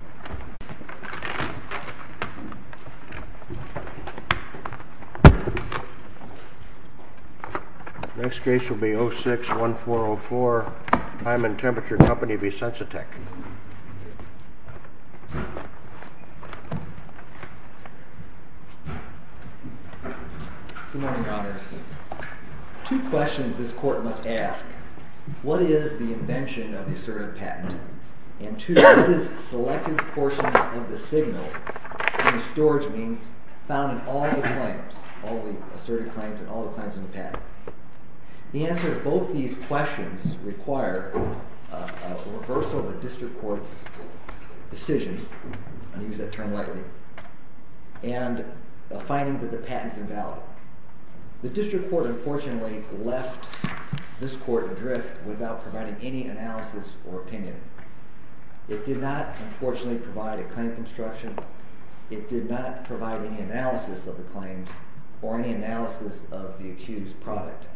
Good morning, Your Honors. Two questions this Court must ask. One is the invention of the patented portions of the signal in the storage means found in all the claims, all the asserted claims and all the claims in the patent. The answer to both these questions require a reversal of the District Court's decision, I use that term lightly, and a finding that the patent is invalid. The District Court unfortunately left this Court adrift without providing any analysis or opinion. It did not, unfortunately, provide a claim construction. It did not provide any analysis of the claims or any analysis of the accused product.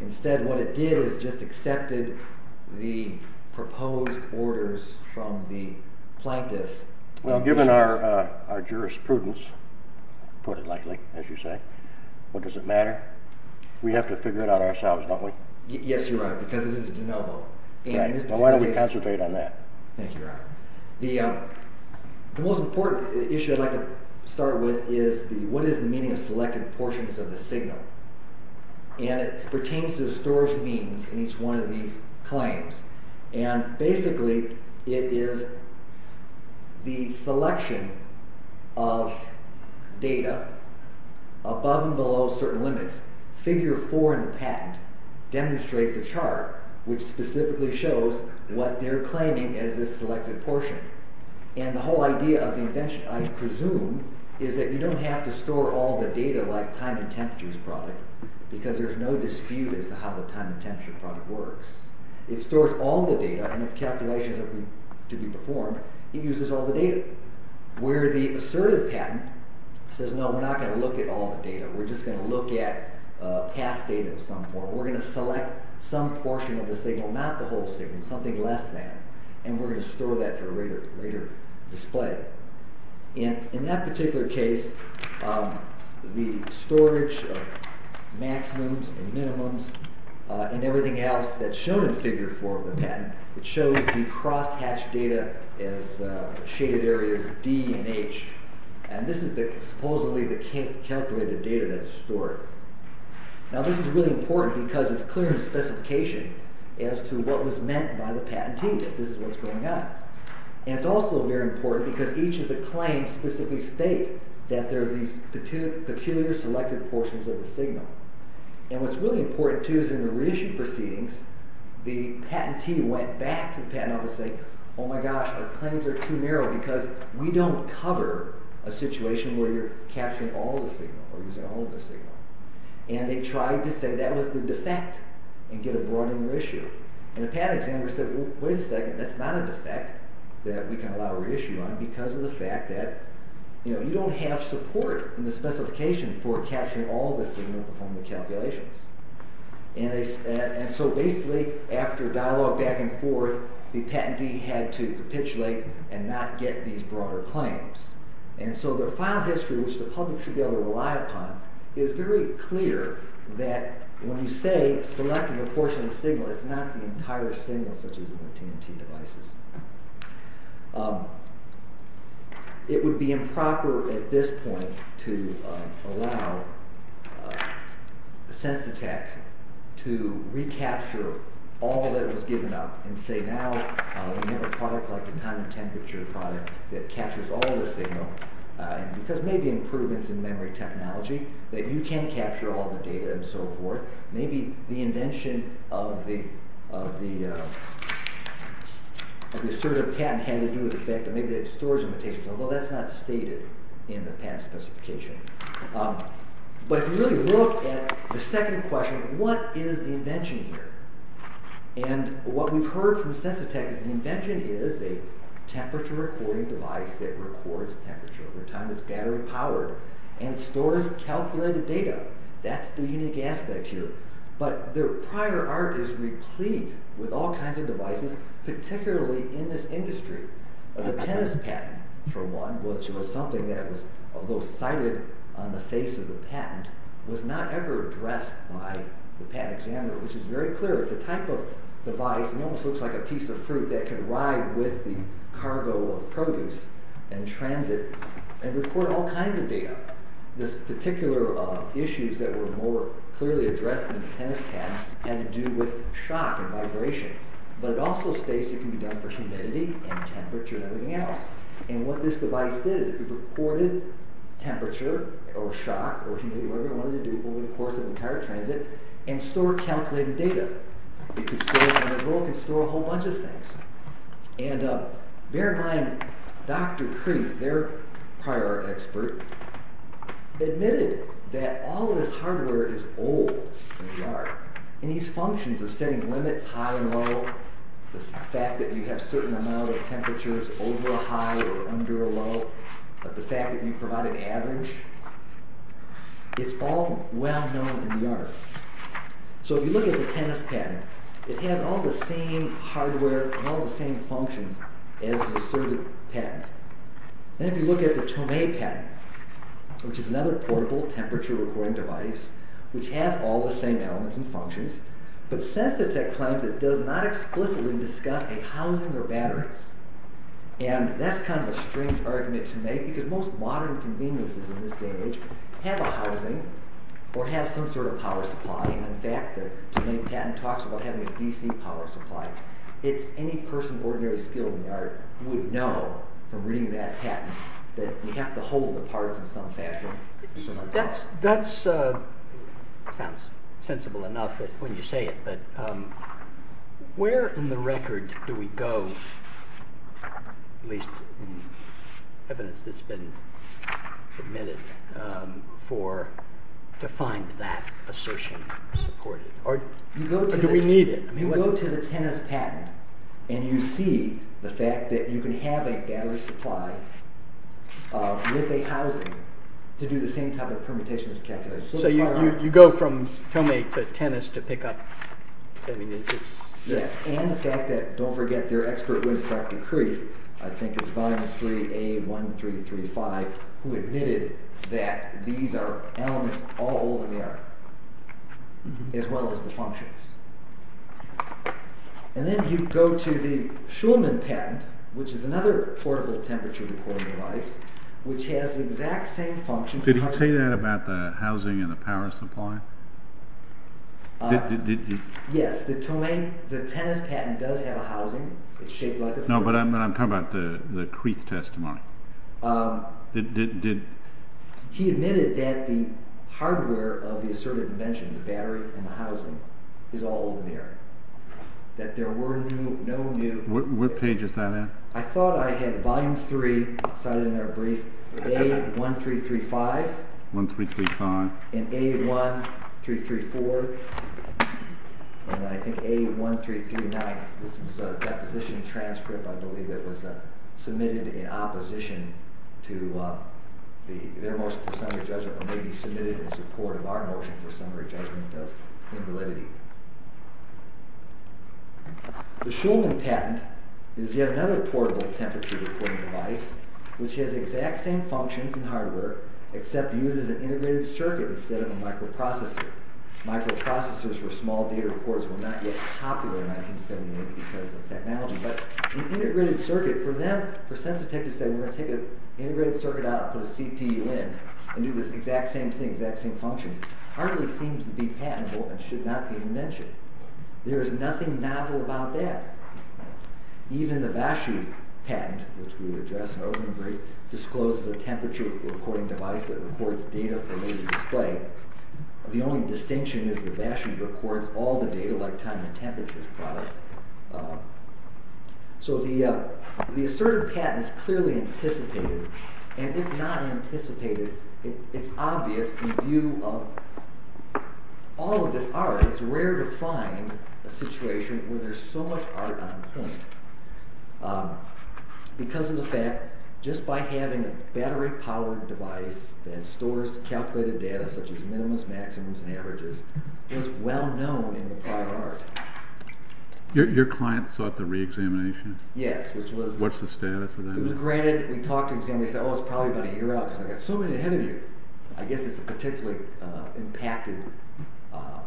Instead, what it did is just accepted the proposed orders from the plaintiff. Well, given our jurisprudence, put it lightly, as you say, what does it matter? We have to figure it out ourselves, don't we? Yes, Your Honor, because this is de novo. Right, well why don't we concentrate on that? Thank you, Your Honor. The most important issue I'd like to start with is what is the meaning of selected portions of the signal? And it pertains to the storage means in each one of these claims. Basically, it is the selection of data above and below certain limits. Figure 4 in the patent demonstrates the chart, which specifically shows what they're claiming as this selected portion. And the whole idea of the invention, I presume, is that you don't have to store all the data like time and temperature's product, because there's no dispute as to how the time and temperature product works. It stores all the data, and if calculations are to be performed, it uses all the data. Where the assertive patent says, no, we're not going to look at all the data, we're just going to look at past data of some form. We're going to select some portion of the signal, not the whole signal, something less than, and we're going to store that for a later display. In that particular case, the storage of maximums and minimums and everything else that's shown in Figure 4 of the patent, it shows the cross-hatched data as shaded areas D and H, and this is supposedly the calculated data that's stored. Now this is really important because it's clear in the specification as to what was meant by the patentee that this is what's going on. And it's also very important because each of the claims specifically state that there are these peculiar selected portions of the signal. And what's really important too is in the reissue proceedings, the patentee went back to the patent office and said, oh my gosh, our claims are too narrow because we don't cover a situation where you're capturing all the signal or using all of the signal. And they tried to say that was the defect and get a broader issue. And the patent examiner said, wait a second, that's not a defect that we can allow a reissue on because of the fact that you don't have support in the specification for capturing all of the signal from the calculations. And so basically after dialogue back and forth, the patentee had to capitulate and not get these broader claims. And so their file history, which the public should be able to rely upon, is very clear that when you say selected portion of the signal, it's not the entire signal such as in the TNT devices. It would be improper at this point to allow Sensotec to recapture all that was given up and say now we have a product like the time and temperature product that captures all the signal because maybe improvements in memory technology that you can capture all the data and so forth. Maybe the invention of the assertive patent had to do with the fact that maybe they had storage limitations, although that's not stated in the patent specification. But if you really look at the second question, what is the invention here? And what we've heard from Sensotec is the invention is a temperature recording device that records temperature over time that's battery powered and stores calculated data. That's the unique aspect here. But their prior art is replete with all kinds of devices, particularly in this industry. The tennis patent for one, which was something that was cited on the face of the patent, was not ever addressed by the patent examiner, which is very clear. It's a type of device that almost looks like a piece of fruit that can ride with the cargo of produce in transit and record all kinds of data. These particular issues that were more clearly addressed in the tennis patent had to do with shock and vibration, but it also states it can be done for humidity and temperature and everything else. And what this device did is it recorded temperature or shock or humidity, whatever it wanted to do over the course of the entire transit, and stored calculated data. It could store a whole bunch of things. And bear in mind, Dr. Krief, their prior art expert, admitted that all of this hardware is old in the art. And these functions of setting limits, high and low, the fact that you have certain amount of temperatures over a high or under a low, the fact that you provide an average, it's all well known in the art. So if you look at the tennis patent, it has all the same hardware and all the same functions as the circuit patent. And if you look at the Tomei patent, which is another portable temperature recording device, which has all the same elements and functions, but Sensotec claims it does not explicitly discuss a housing or batteries. And that's kind of a strange argument to make, because most modern conveniences in this day and age have a housing or have some sort of power supply. And in fact, the Tomei patent talks about having a DC power supply. It's any person with ordinary skill in the art would know from reading that patent that you have to hold the parts in some fashion. That sounds sensible enough when you say it, but where in the record do we go, at least in evidence that's been admitted, to find that assertion supported? Or do we need it? You go to the tennis patent and you see the fact that you can have a battery supply with a housing to do the same type of permutations and calculations. So you go from Tomei to tennis to pick up… Yes, and the fact that, don't forget, their expert was Dr. Kreef, I think it's volume 3A1335, who admitted that these are elements all in the art, as well as the functions. And then you go to the Shulman patent, which is another portable temperature recording device, which has the exact same functions. Did he say that about the housing and the power supply? Yes, the Tomei, the tennis patent does have a housing. No, but I'm talking about the Kreef testimony. He admitted that the hardware of the asserted invention, the battery and the housing, is all in the art. That there were no new… What page is that at? I thought I had volume 3, cited in our brief, A1335, and A1334, and I think A1339. This was a deposition transcript, I believe, that was submitted in opposition to their motion for summary judgment, or maybe submitted in support of our motion for summary judgment of invalidity. The Shulman patent is yet another portable temperature recording device, which has the exact same functions and hardware, except uses an integrated circuit instead of a microprocessor. Microprocessors for small data recorders were not yet popular in 1978 because of technology, but an integrated circuit, for them, for Sensotec to say, we're going to take an integrated circuit out and put a CPU in and do this exact same thing, exact same functions, hardly seems to be patentable and should not be mentioned. There is nothing novel about that. Even the Vashie patent, which we addressed in our opening brief, discloses a temperature recording device that records data for later display. The only distinction is that Vashie records all the data, like time and temperatures. So the asserted patent is clearly anticipated, and if not anticipated, it's obvious in view of all of this art, it's rare to find a situation where there's so much art on point. Because of the fact, just by having a battery-powered device that stores calculated data such as minimums, maximums, and averages, it was well known in the private art. Your client sought the re-examination? Yes. What's the status of that? It was granted. We talked to him and he said, oh, it's probably about a year out because I've got so many ahead of you. I guess it's a particularly impacted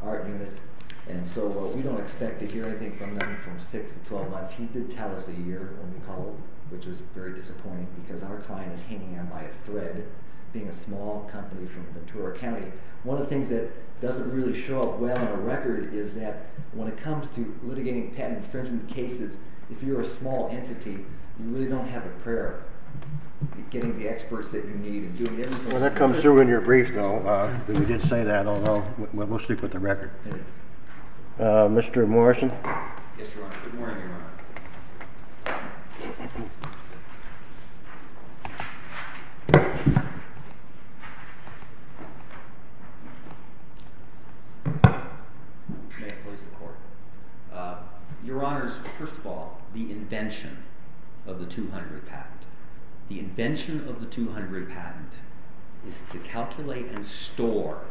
art unit, and so we don't expect to hear anything from them from 6 to 12 months. He did tell us a year when we called, which was very disappointing because our client is hanging on by a thread, being a small company from Ventura County. One of the things that doesn't really show up well in a record is that when it comes to litigating patent infringement cases, if you're a small entity, you really don't have a prayer. Getting the experts that you need and doing everything. Well, that comes through in your brief, though. We did say that, although we'll stick with the record. Mr. Morrison? Yes, Your Honor. Good morning, Your Honor. May it please the Court. Your Honor, first of all, the invention of the 200 patent. The invention of the 200 patent is to calculate and store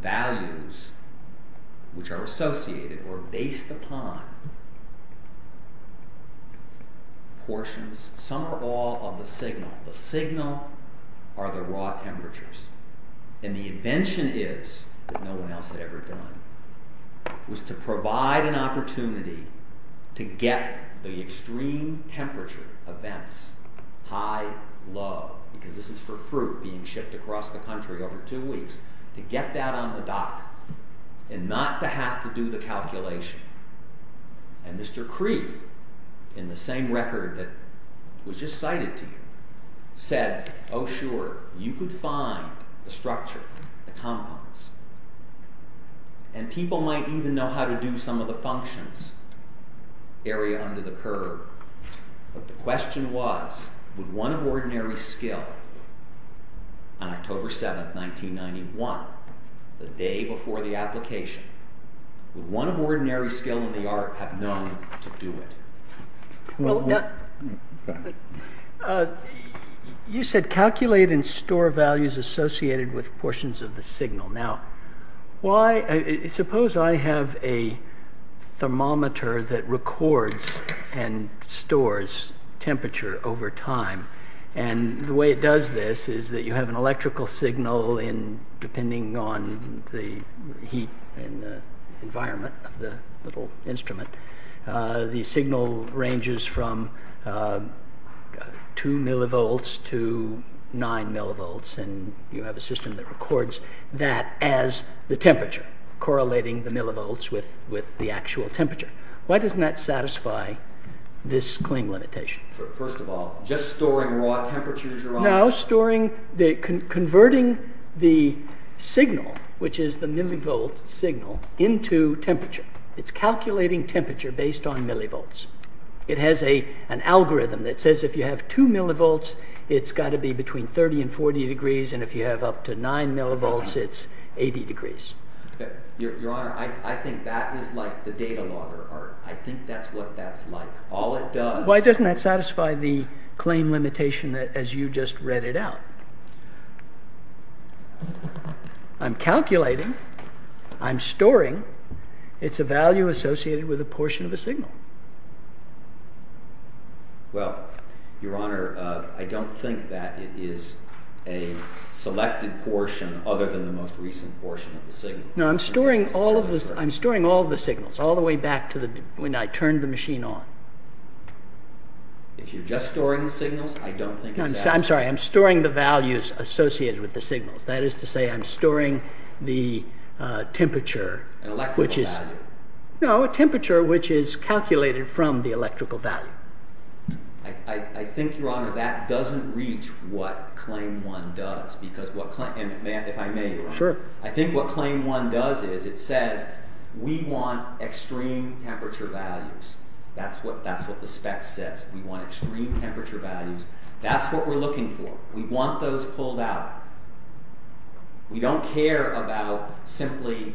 values which are associated or based upon portions, some or all of the signal. The signal are the raw temperatures. And the invention is, that no one else had ever done, was to provide an opportunity to get the extreme temperature events, high, low, because this is for fruit being shipped across the country over two weeks, to get that on the dock and not to have to do the calculation. And Mr. Kreef, in the same record that was just cited to you, said, oh sure, you could find the structure, the compounds. And people might even know how to do some of the functions, area under the curve. But the question was, would one of ordinary skill, on October 7, 1991, the day before the application, would one of ordinary skill in the art have known to do it? You said calculate and store values associated with portions of the signal. Now, suppose I have a thermometer that records and stores temperature over time. And the way it does this is that you have an electrical signal in, depending on the heat and the environment of the little instrument. The signal ranges from 2 millivolts to 9 millivolts. And you have a system that records that as the temperature, correlating the millivolts with the actual temperature. Why doesn't that satisfy this Kling limitation? First of all, just storing raw temperatures, Your Honor? No, converting the signal, which is the millivolts signal, into temperature. It's calculating temperature based on millivolts. It has an algorithm that says if you have 2 millivolts, it's got to be between 30 and 40 degrees. And if you have up to 9 millivolts, it's 80 degrees. Your Honor, I think that is like the data logger. I think that's what that's like. Why doesn't that satisfy the Kling limitation as you just read it out? I'm calculating. I'm storing. It's a value associated with a portion of a signal. Well, Your Honor, I don't think that it is a selected portion other than the most recent portion of the signal. No, I'm storing all of the signals, all the way back to when I turned the machine on. If you're just storing the signals, I don't think it's as— I'm sorry. I'm storing the values associated with the signals. That is to say, I'm storing the temperature, which is— An electrical value. No, a temperature which is calculated from the electrical value. I think, Your Honor, that doesn't reach what Claim 1 does, because what—and if I may, Your Honor— Sure. I think what Claim 1 does is it says, we want extreme temperature values. That's what the spec says. We want extreme temperature values. That's what we're looking for. We want those pulled out. We don't care about simply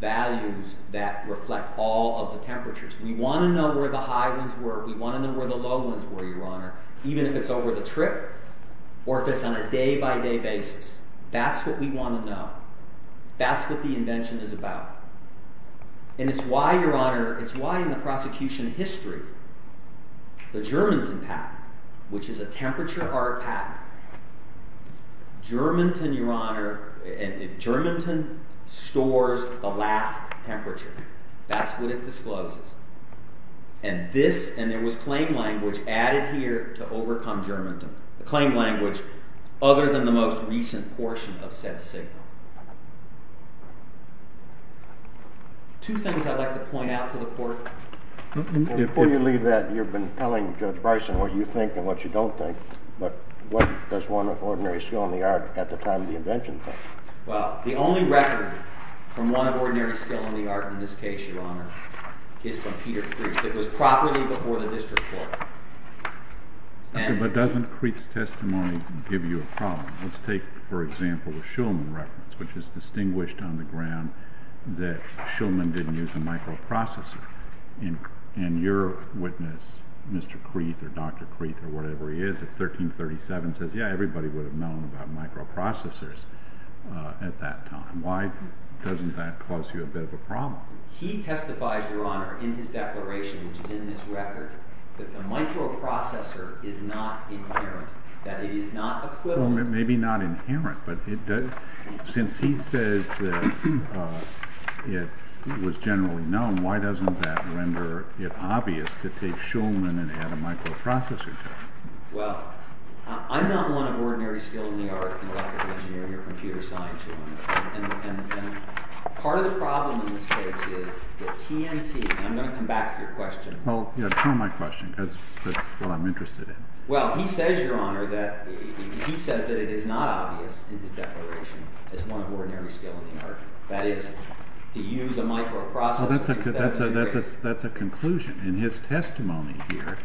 values that reflect all of the temperatures. We want to know where the high ones were. We want to know where the low ones were, Your Honor, even if it's over the trip or if it's on a day-by-day basis. That's what we want to know. That's what the invention is about. And it's why, Your Honor, it's why in the prosecution history, the Germanton patent, which is a temperature art patent— Germanton, Your Honor—Germanton stores the last temperature. That's what it discloses. And this—and there was claim language added here to overcome Germanton. The claim language, other than the most recent portion of said signal. Two things I'd like to point out to the Court. Before you leave that, you've been telling Judge Bryson what you think and what you don't think. But what does one of ordinary skill in the art at the time of the invention think? Well, the only record from one of ordinary skill in the art in this case, Your Honor, is from Peter Creek. It was properly before the district court. But doesn't Creek's testimony give you a problem? Let's take, for example, the Shulman reference, which is distinguished on the ground that Shulman didn't use a microprocessor. And your witness, Mr. Creek or Dr. Creek or whatever he is at 1337, says yeah, everybody would have known about microprocessors at that time. Why doesn't that cause you a bit of a problem? He testifies, Your Honor, in his declaration, which is in this record, that the microprocessor is not inherent, that it is not equivalent. Well, maybe not inherent, but since he says that it was generally known, why doesn't that render it obvious to take Shulman and add a microprocessor to it? Well, I'm not one of ordinary skill in the art in electrical engineering or computer science, Your Honor. And part of the problem in this case is that TNT, and I'm going to come back to your question. Well, you know, it's not my question because that's what I'm interested in. Well, he says, Your Honor, that he says that it is not obvious in his declaration as one of ordinary skill in the art, that is, to use a microprocessor instead of a device. Well, that's a conclusion. In his testimony here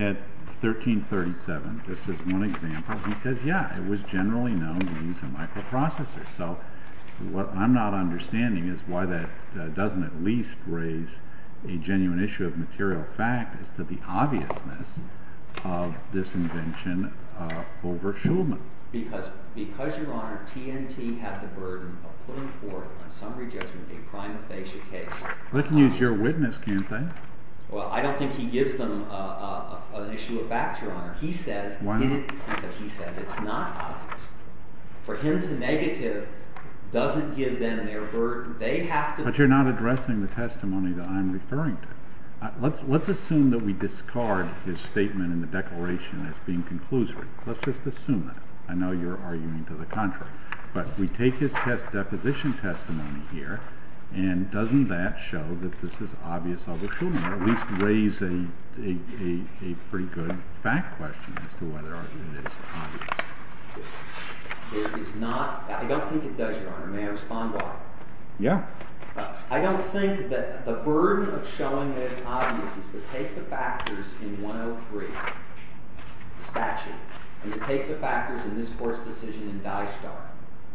at 1337, just as one example, he says, yeah, it was generally known to use a microprocessor. So what I'm not understanding is why that doesn't at least raise a genuine issue of material fact as to the obviousness of this invention over Shulman. Because, Your Honor, TNT had the burden of putting forth on summary judgment a prima facie case. Well, they can use your witness, can't they? Well, I don't think he gives them an issue of fact, Your Honor. He says, because he says it's not obvious. For him to negative doesn't give them their burden. They have to. But you're not addressing the testimony that I'm referring to. Let's assume that we discard his statement in the declaration as being conclusory. Let's just assume that. I know you're arguing to the contrary. But we take his deposition testimony here, and doesn't that show that this is obvious over Shulman or at least raise a pretty good fact question as to whether it is obvious. It is not. I don't think it does, Your Honor. May I respond to that? Yeah. I don't think that the burden of showing that it's obvious is to take the factors in 103, the statute, and to take the factors in this court's decision in Die Star,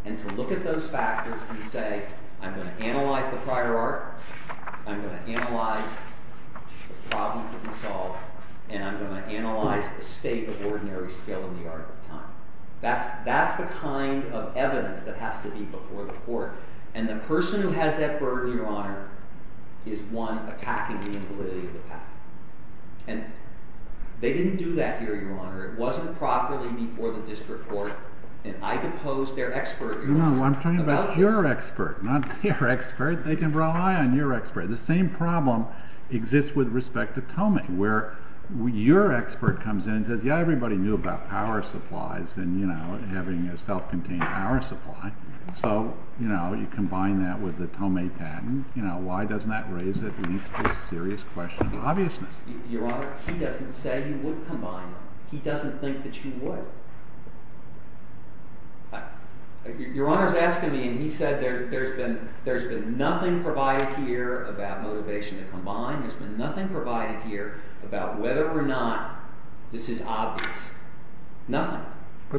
and to look at those factors and say, I'm going to analyze the prior art, I'm going to analyze the problem to be solved, and I'm going to analyze the state of ordinary skill in the art of time. That's the kind of evidence that has to be before the court. And the person who has that burden, Your Honor, is one attacking the invalidity of the path. And they didn't do that here, Your Honor. It wasn't properly before the district court. And I depose their expert, Your Honor. No, I'm talking about your expert, not their expert. They can rely on your expert. The same problem exists with respect to Tomei, where your expert comes in and says, yeah, everybody knew about power supplies and having a self-contained power supply. So you combine that with the Tomei patent. Why doesn't that raise at least a serious question of obviousness? Your Honor, he doesn't say he would combine it. He doesn't think that you would. Your Honor is asking me, and he said there's been nothing provided here about motivation to combine. There's been nothing provided here about whether or not this is obvious. Nothing.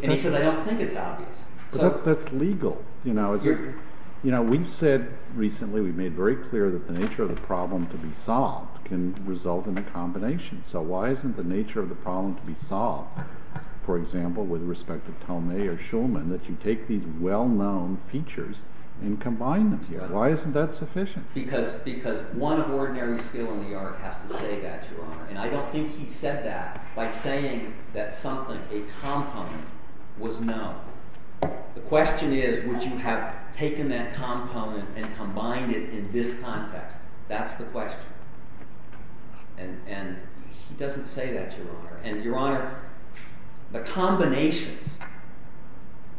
And he says I don't think it's obvious. But that's legal. You know, we've said recently, we've made very clear that the nature of the problem to be solved can result in a combination. So why isn't the nature of the problem to be solved, for example, with respect to Tomei or Shulman, that you take these well-known features and combine them? Why isn't that sufficient? Because one of ordinary skill in the art has to say that, Your Honor. And I don't think he said that by saying that something, a compound, was known. The question is would you have taken that compound and combined it in this context. That's the question. And he doesn't say that, Your Honor. And, Your Honor, the combinations,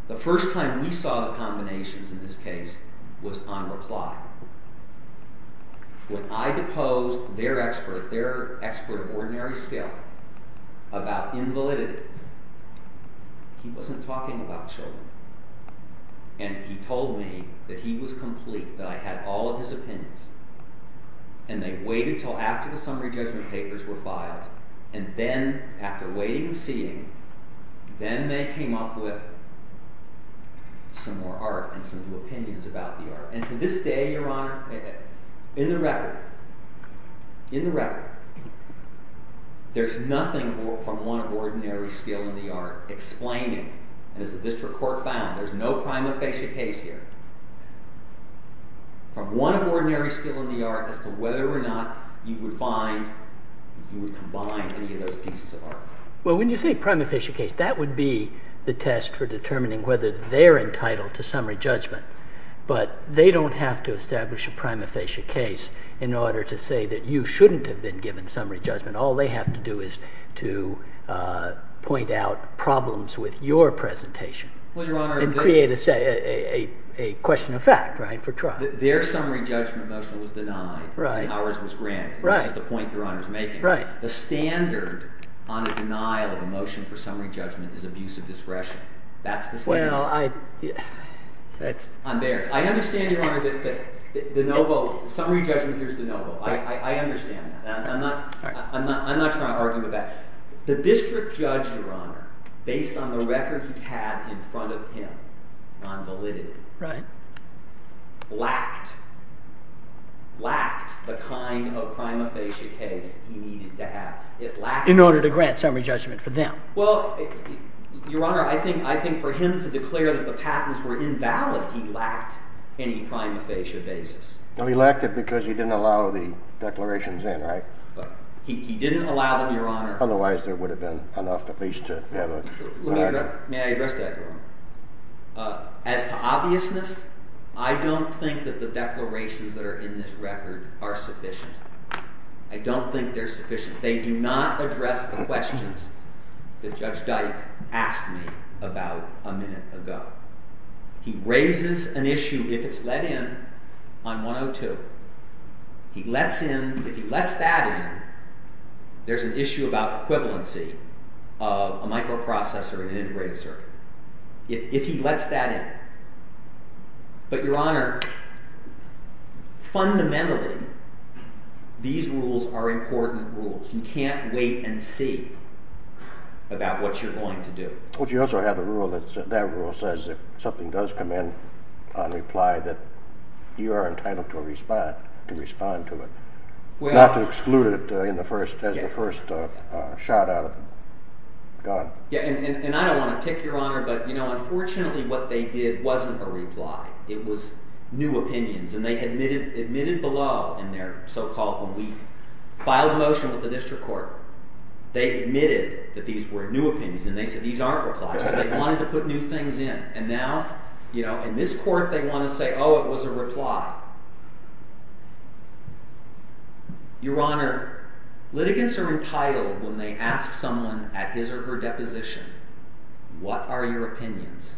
the first time we saw the combinations in this case was on reply. When I deposed their expert, their expert of ordinary skill, about invalidity, he wasn't talking about Shulman. And he told me that he was complete, that I had all of his opinions. And they waited until after the summary judgment papers were filed. And then, after waiting and seeing, then they came up with some more art and some new opinions about the art. And to this day, Your Honor, in the record, in the record, there's nothing from one of ordinary skill in the art explaining. And as the district court found, there's no prime and basic case here. From one of ordinary skill in the art as to whether or not you would find, you would combine any of those pieces of art. Well, when you say prime and basic case, that would be the test for determining whether they're entitled to summary judgment. But they don't have to establish a prime and basic case in order to say that you shouldn't have been given summary judgment. All they have to do is to point out problems with your presentation. Well, Your Honor, And create a question of fact for trial. Their summary judgment motion was denied. Right. Ours was granted. Right. This is the point Your Honor is making. Right. The standard on a denial of a motion for summary judgment is abuse of discretion. That's the standard. Well, I, that's. On theirs. I understand, Your Honor, that DeNovo, summary judgment appears DeNovo. I understand that. I'm not trying to argue with that. The district judge, Your Honor, based on the record he had in front of him on validity. Right. Lacked, lacked the kind of prime and basic case he needed to have. In order to grant summary judgment for them. Well, Your Honor, I think for him to declare that the patents were invalid, he lacked any prime and basic basis. Well, he lacked it because he didn't allow the declarations in, right? He didn't allow them, Your Honor. Otherwise, there would have been enough at least to have a. May I address that, Your Honor? As to obviousness, I don't think that the declarations that are in this record are sufficient. I don't think they're sufficient. They do not address the questions that Judge Dyke asked me about a minute ago. He raises an issue, if it's let in, on 102. He lets in. If he lets that in, there's an issue about equivalency of a microprocessor and an integrator. If he lets that in. But, Your Honor, fundamentally, these rules are important rules. You can't wait and see about what you're going to do. But you also have the rule that says if something does come in on reply that you are entitled to respond to it, not to exclude it as the first shot out of the gun. Yeah, and I don't want to pick, Your Honor, but, you know, unfortunately, what they did wasn't a reply. It was new opinions, and they admitted below in their so-called weak filed motion with the district court. They admitted that these were new opinions, and they said these aren't replies because they wanted to put new things in. And now, you know, in this court, they want to say, oh, it was a reply. Your Honor, litigants are entitled when they ask someone at his or her deposition, what are your opinions?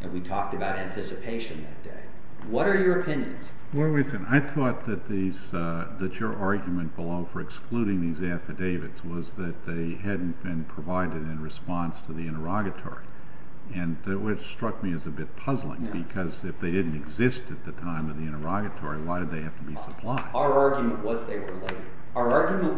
And we talked about anticipation that day. What are your opinions? Well, listen, I thought that your argument below for excluding these affidavits was that they hadn't been provided in response to the interrogatory. And it struck me as a bit puzzling because if they didn't exist at the time of the interrogatory, why did they have to be supplied? Our argument was they were late.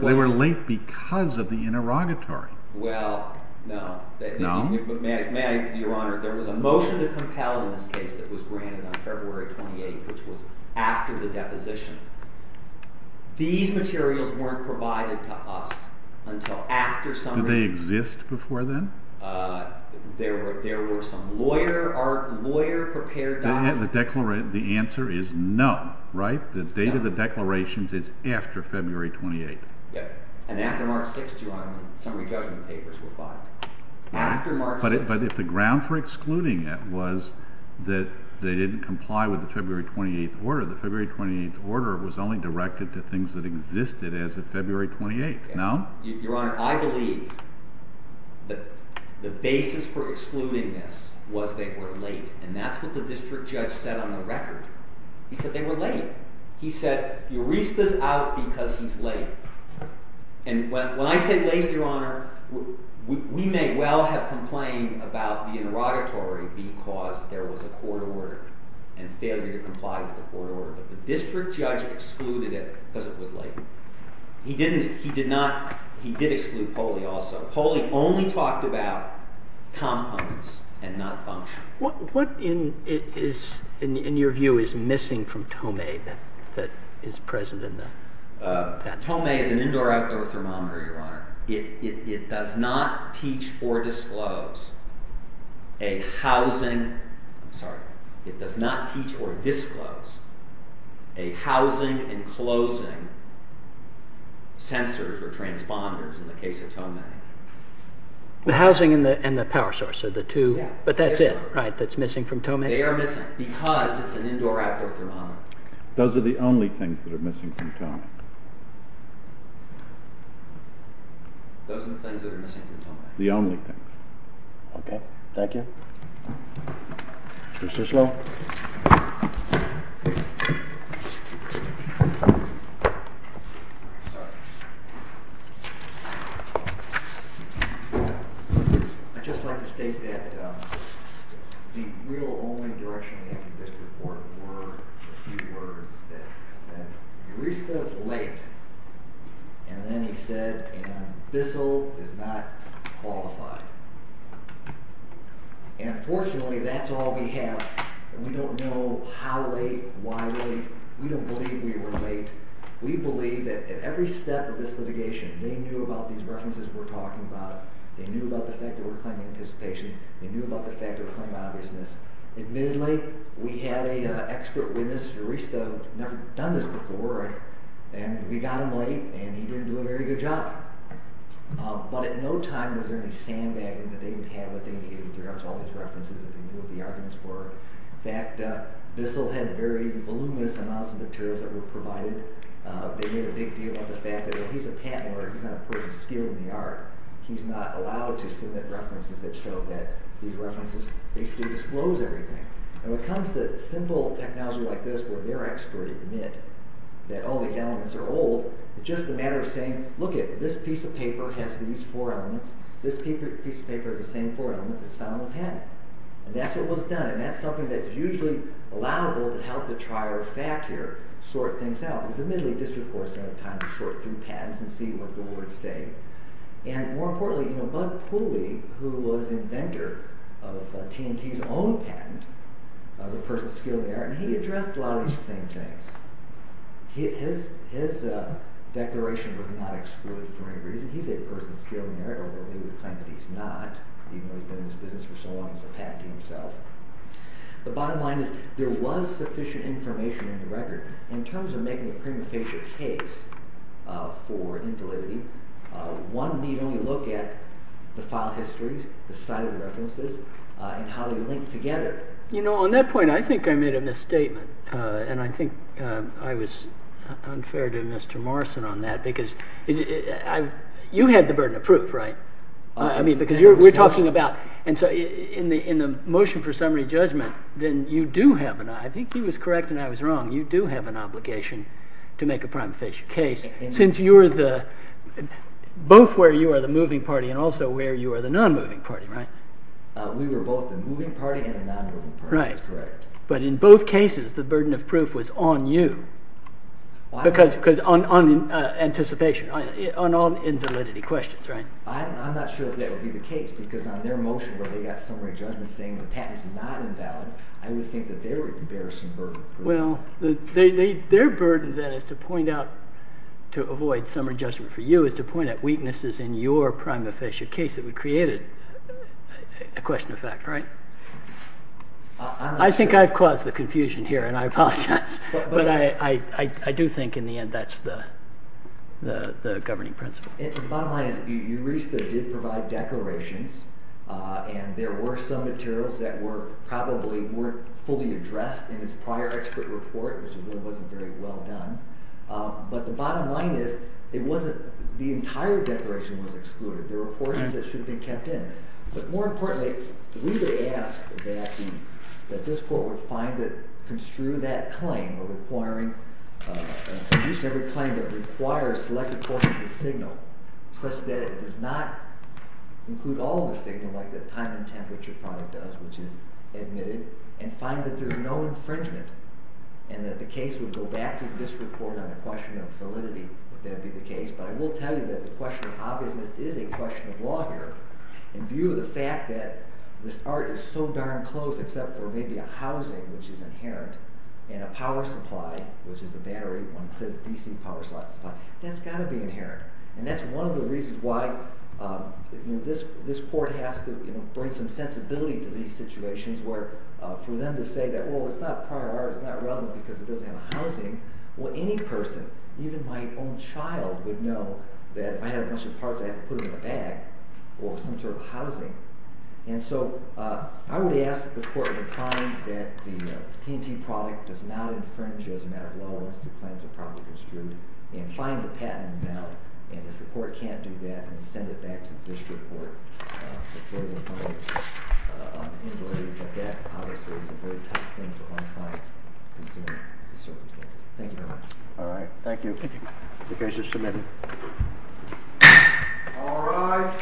They were late because of the interrogatory. Well, no. No? Your Honor, there was a motion to compel in this case that was granted on February 28, which was after the deposition. These materials weren't provided to us until after summary judgment. Did they exist before then? There were some lawyer-prepared documents. The answer is no, right? The date of the declarations is after February 28. Yep. And after March 6, Your Honor, the summary judgment papers were filed. After March 6. But if the ground for excluding it was that they didn't comply with the February 28 order, the February 28 order was only directed to things that existed as of February 28, no? Your Honor, I believe that the basis for excluding this was they were late. And that's what the district judge said on the record. He said they were late. He said, Eurysta's out because he's late. And when I say late, Your Honor, we may well have complained about the interrogatory because there was a court order and failure to comply with the court order. But the district judge excluded it because it was late. He didn't. He did exclude Poley also. Poley only talked about components and not function. What, in your view, is missing from Tomei that is present in the document? Tomei is an indoor-outdoor thermometer, Your Honor. It does not teach or disclose a housing and closing sensors or transponders in the case of Tomei. The housing and the power source are the two. But that's it, right, that's missing from Tomei? They are missing because it's an indoor-outdoor thermometer. Those are the only things that are missing from Tomei. Those are the things that are missing from Tomei. The only things. Okay. Thank you. Mr. Sloan. I'd just like to state that the real only direction we have in this report were a few words that said, and then he said, And, fortunately, that's all we have. We don't know how late, why late. We don't believe we were late. We believe that at every step of this litigation, they knew about these references we're talking about. They knew about the fact that we're claiming anticipation. They knew about the fact that we're claiming obviousness. Admittedly, we had an expert witness. Mr. Risto had never done this before, and we got him late, and he didn't do a very good job. But at no time was there any sandbagging that they would have that they indicated that there was all these references that they knew what the arguments were. In fact, Bissell had very voluminous amounts of materials that were provided. They made a big deal about the fact that, well, he's a patent lawyer. He's not a person skilled in the art. He's not allowed to submit references that show that these references basically disclose everything. When it comes to simple technology like this where their experts admit that all these elements are old, it's just a matter of saying, lookit, this piece of paper has these four elements. This piece of paper has the same four elements. It's found on the patent. And that's what was done, and that's something that's usually allowable to help the trier of fact here sort things out. Because admittedly, district courts don't have time to sort through patents and see what the words say. And more importantly, Bud Pooley, who was inventor of T&T's own patent, was a person skilled in the art, and he addressed a lot of these same things. His declaration was not excluded for any reason. He's a person skilled in the art, although he would claim that he's not, even though he's been in this business for so long as a patentee himself. In terms of making a prima facie case for indelibity, one need only look at the file histories, the cited references, and how they link together. You know, on that point, I think I made a misstatement, and I think I was unfair to Mr. Morrison on that, because you had the burden of proof, right? I mean, because you're talking about, and so in the motion for summary judgment, then you do have an, I think he was correct and I was wrong, you do have an obligation to make a prima facie case, since you're the, both where you are the moving party and also where you are the non-moving party, right? We were both the moving party and the non-moving party. Right. That's correct. But in both cases, the burden of proof was on you. Because on anticipation, on all indelibity questions, right? I'm not sure that would be the case, because on their motion where they got summary judgment and saying the patent's not invalid, I would think that they would bear some burden. Well, their burden then is to point out, to avoid summary judgment for you, is to point out weaknesses in your prima facie case that would create a question of fact, right? I'm not sure. I think I've caused the confusion here, and I apologize. But I do think in the end that's the governing principle. The bottom line is, Euresta did provide declarations, and there were some materials that probably weren't fully addressed in his prior expert report, which really wasn't very well done. But the bottom line is, the entire declaration was excluded. There were portions that should have been kept in. But more importantly, we would ask that this court would find that construing that claim or requiring each and every claim that requires selected portions of signal, such that it does not include all of the signal like the time and temperature product does, which is admitted, and find that there's no infringement, and that the case would go back to the district court on the question of validity, if that would be the case. But I will tell you that the question of obviousness is a question of law here, in view of the fact that this art is so darn close, except for maybe a housing, which is inherent, and a power supply, which is a battery, one that says DC power supply, that's got to be inherent. And that's one of the reasons why this court has to bring some sensibility to these situations, where for them to say that, well, it's not prior art, it's not relevant because it doesn't have a housing, well, any person, even my own child, would know that if I had a bunch of parts, I have to put them in a bag, or some sort of housing. And so I would ask that the court would find that the T&T product does not infringe, as a matter of law, unless the claims are properly construed, and find the patent inbound, and if the court can't do that, then send it back to the district court for further comment on invalidity. But that, obviously, is a very tough thing to find clients considering the circumstances. Thank you very much. All right. Thank you. The case is submitted. All rise. Thank you.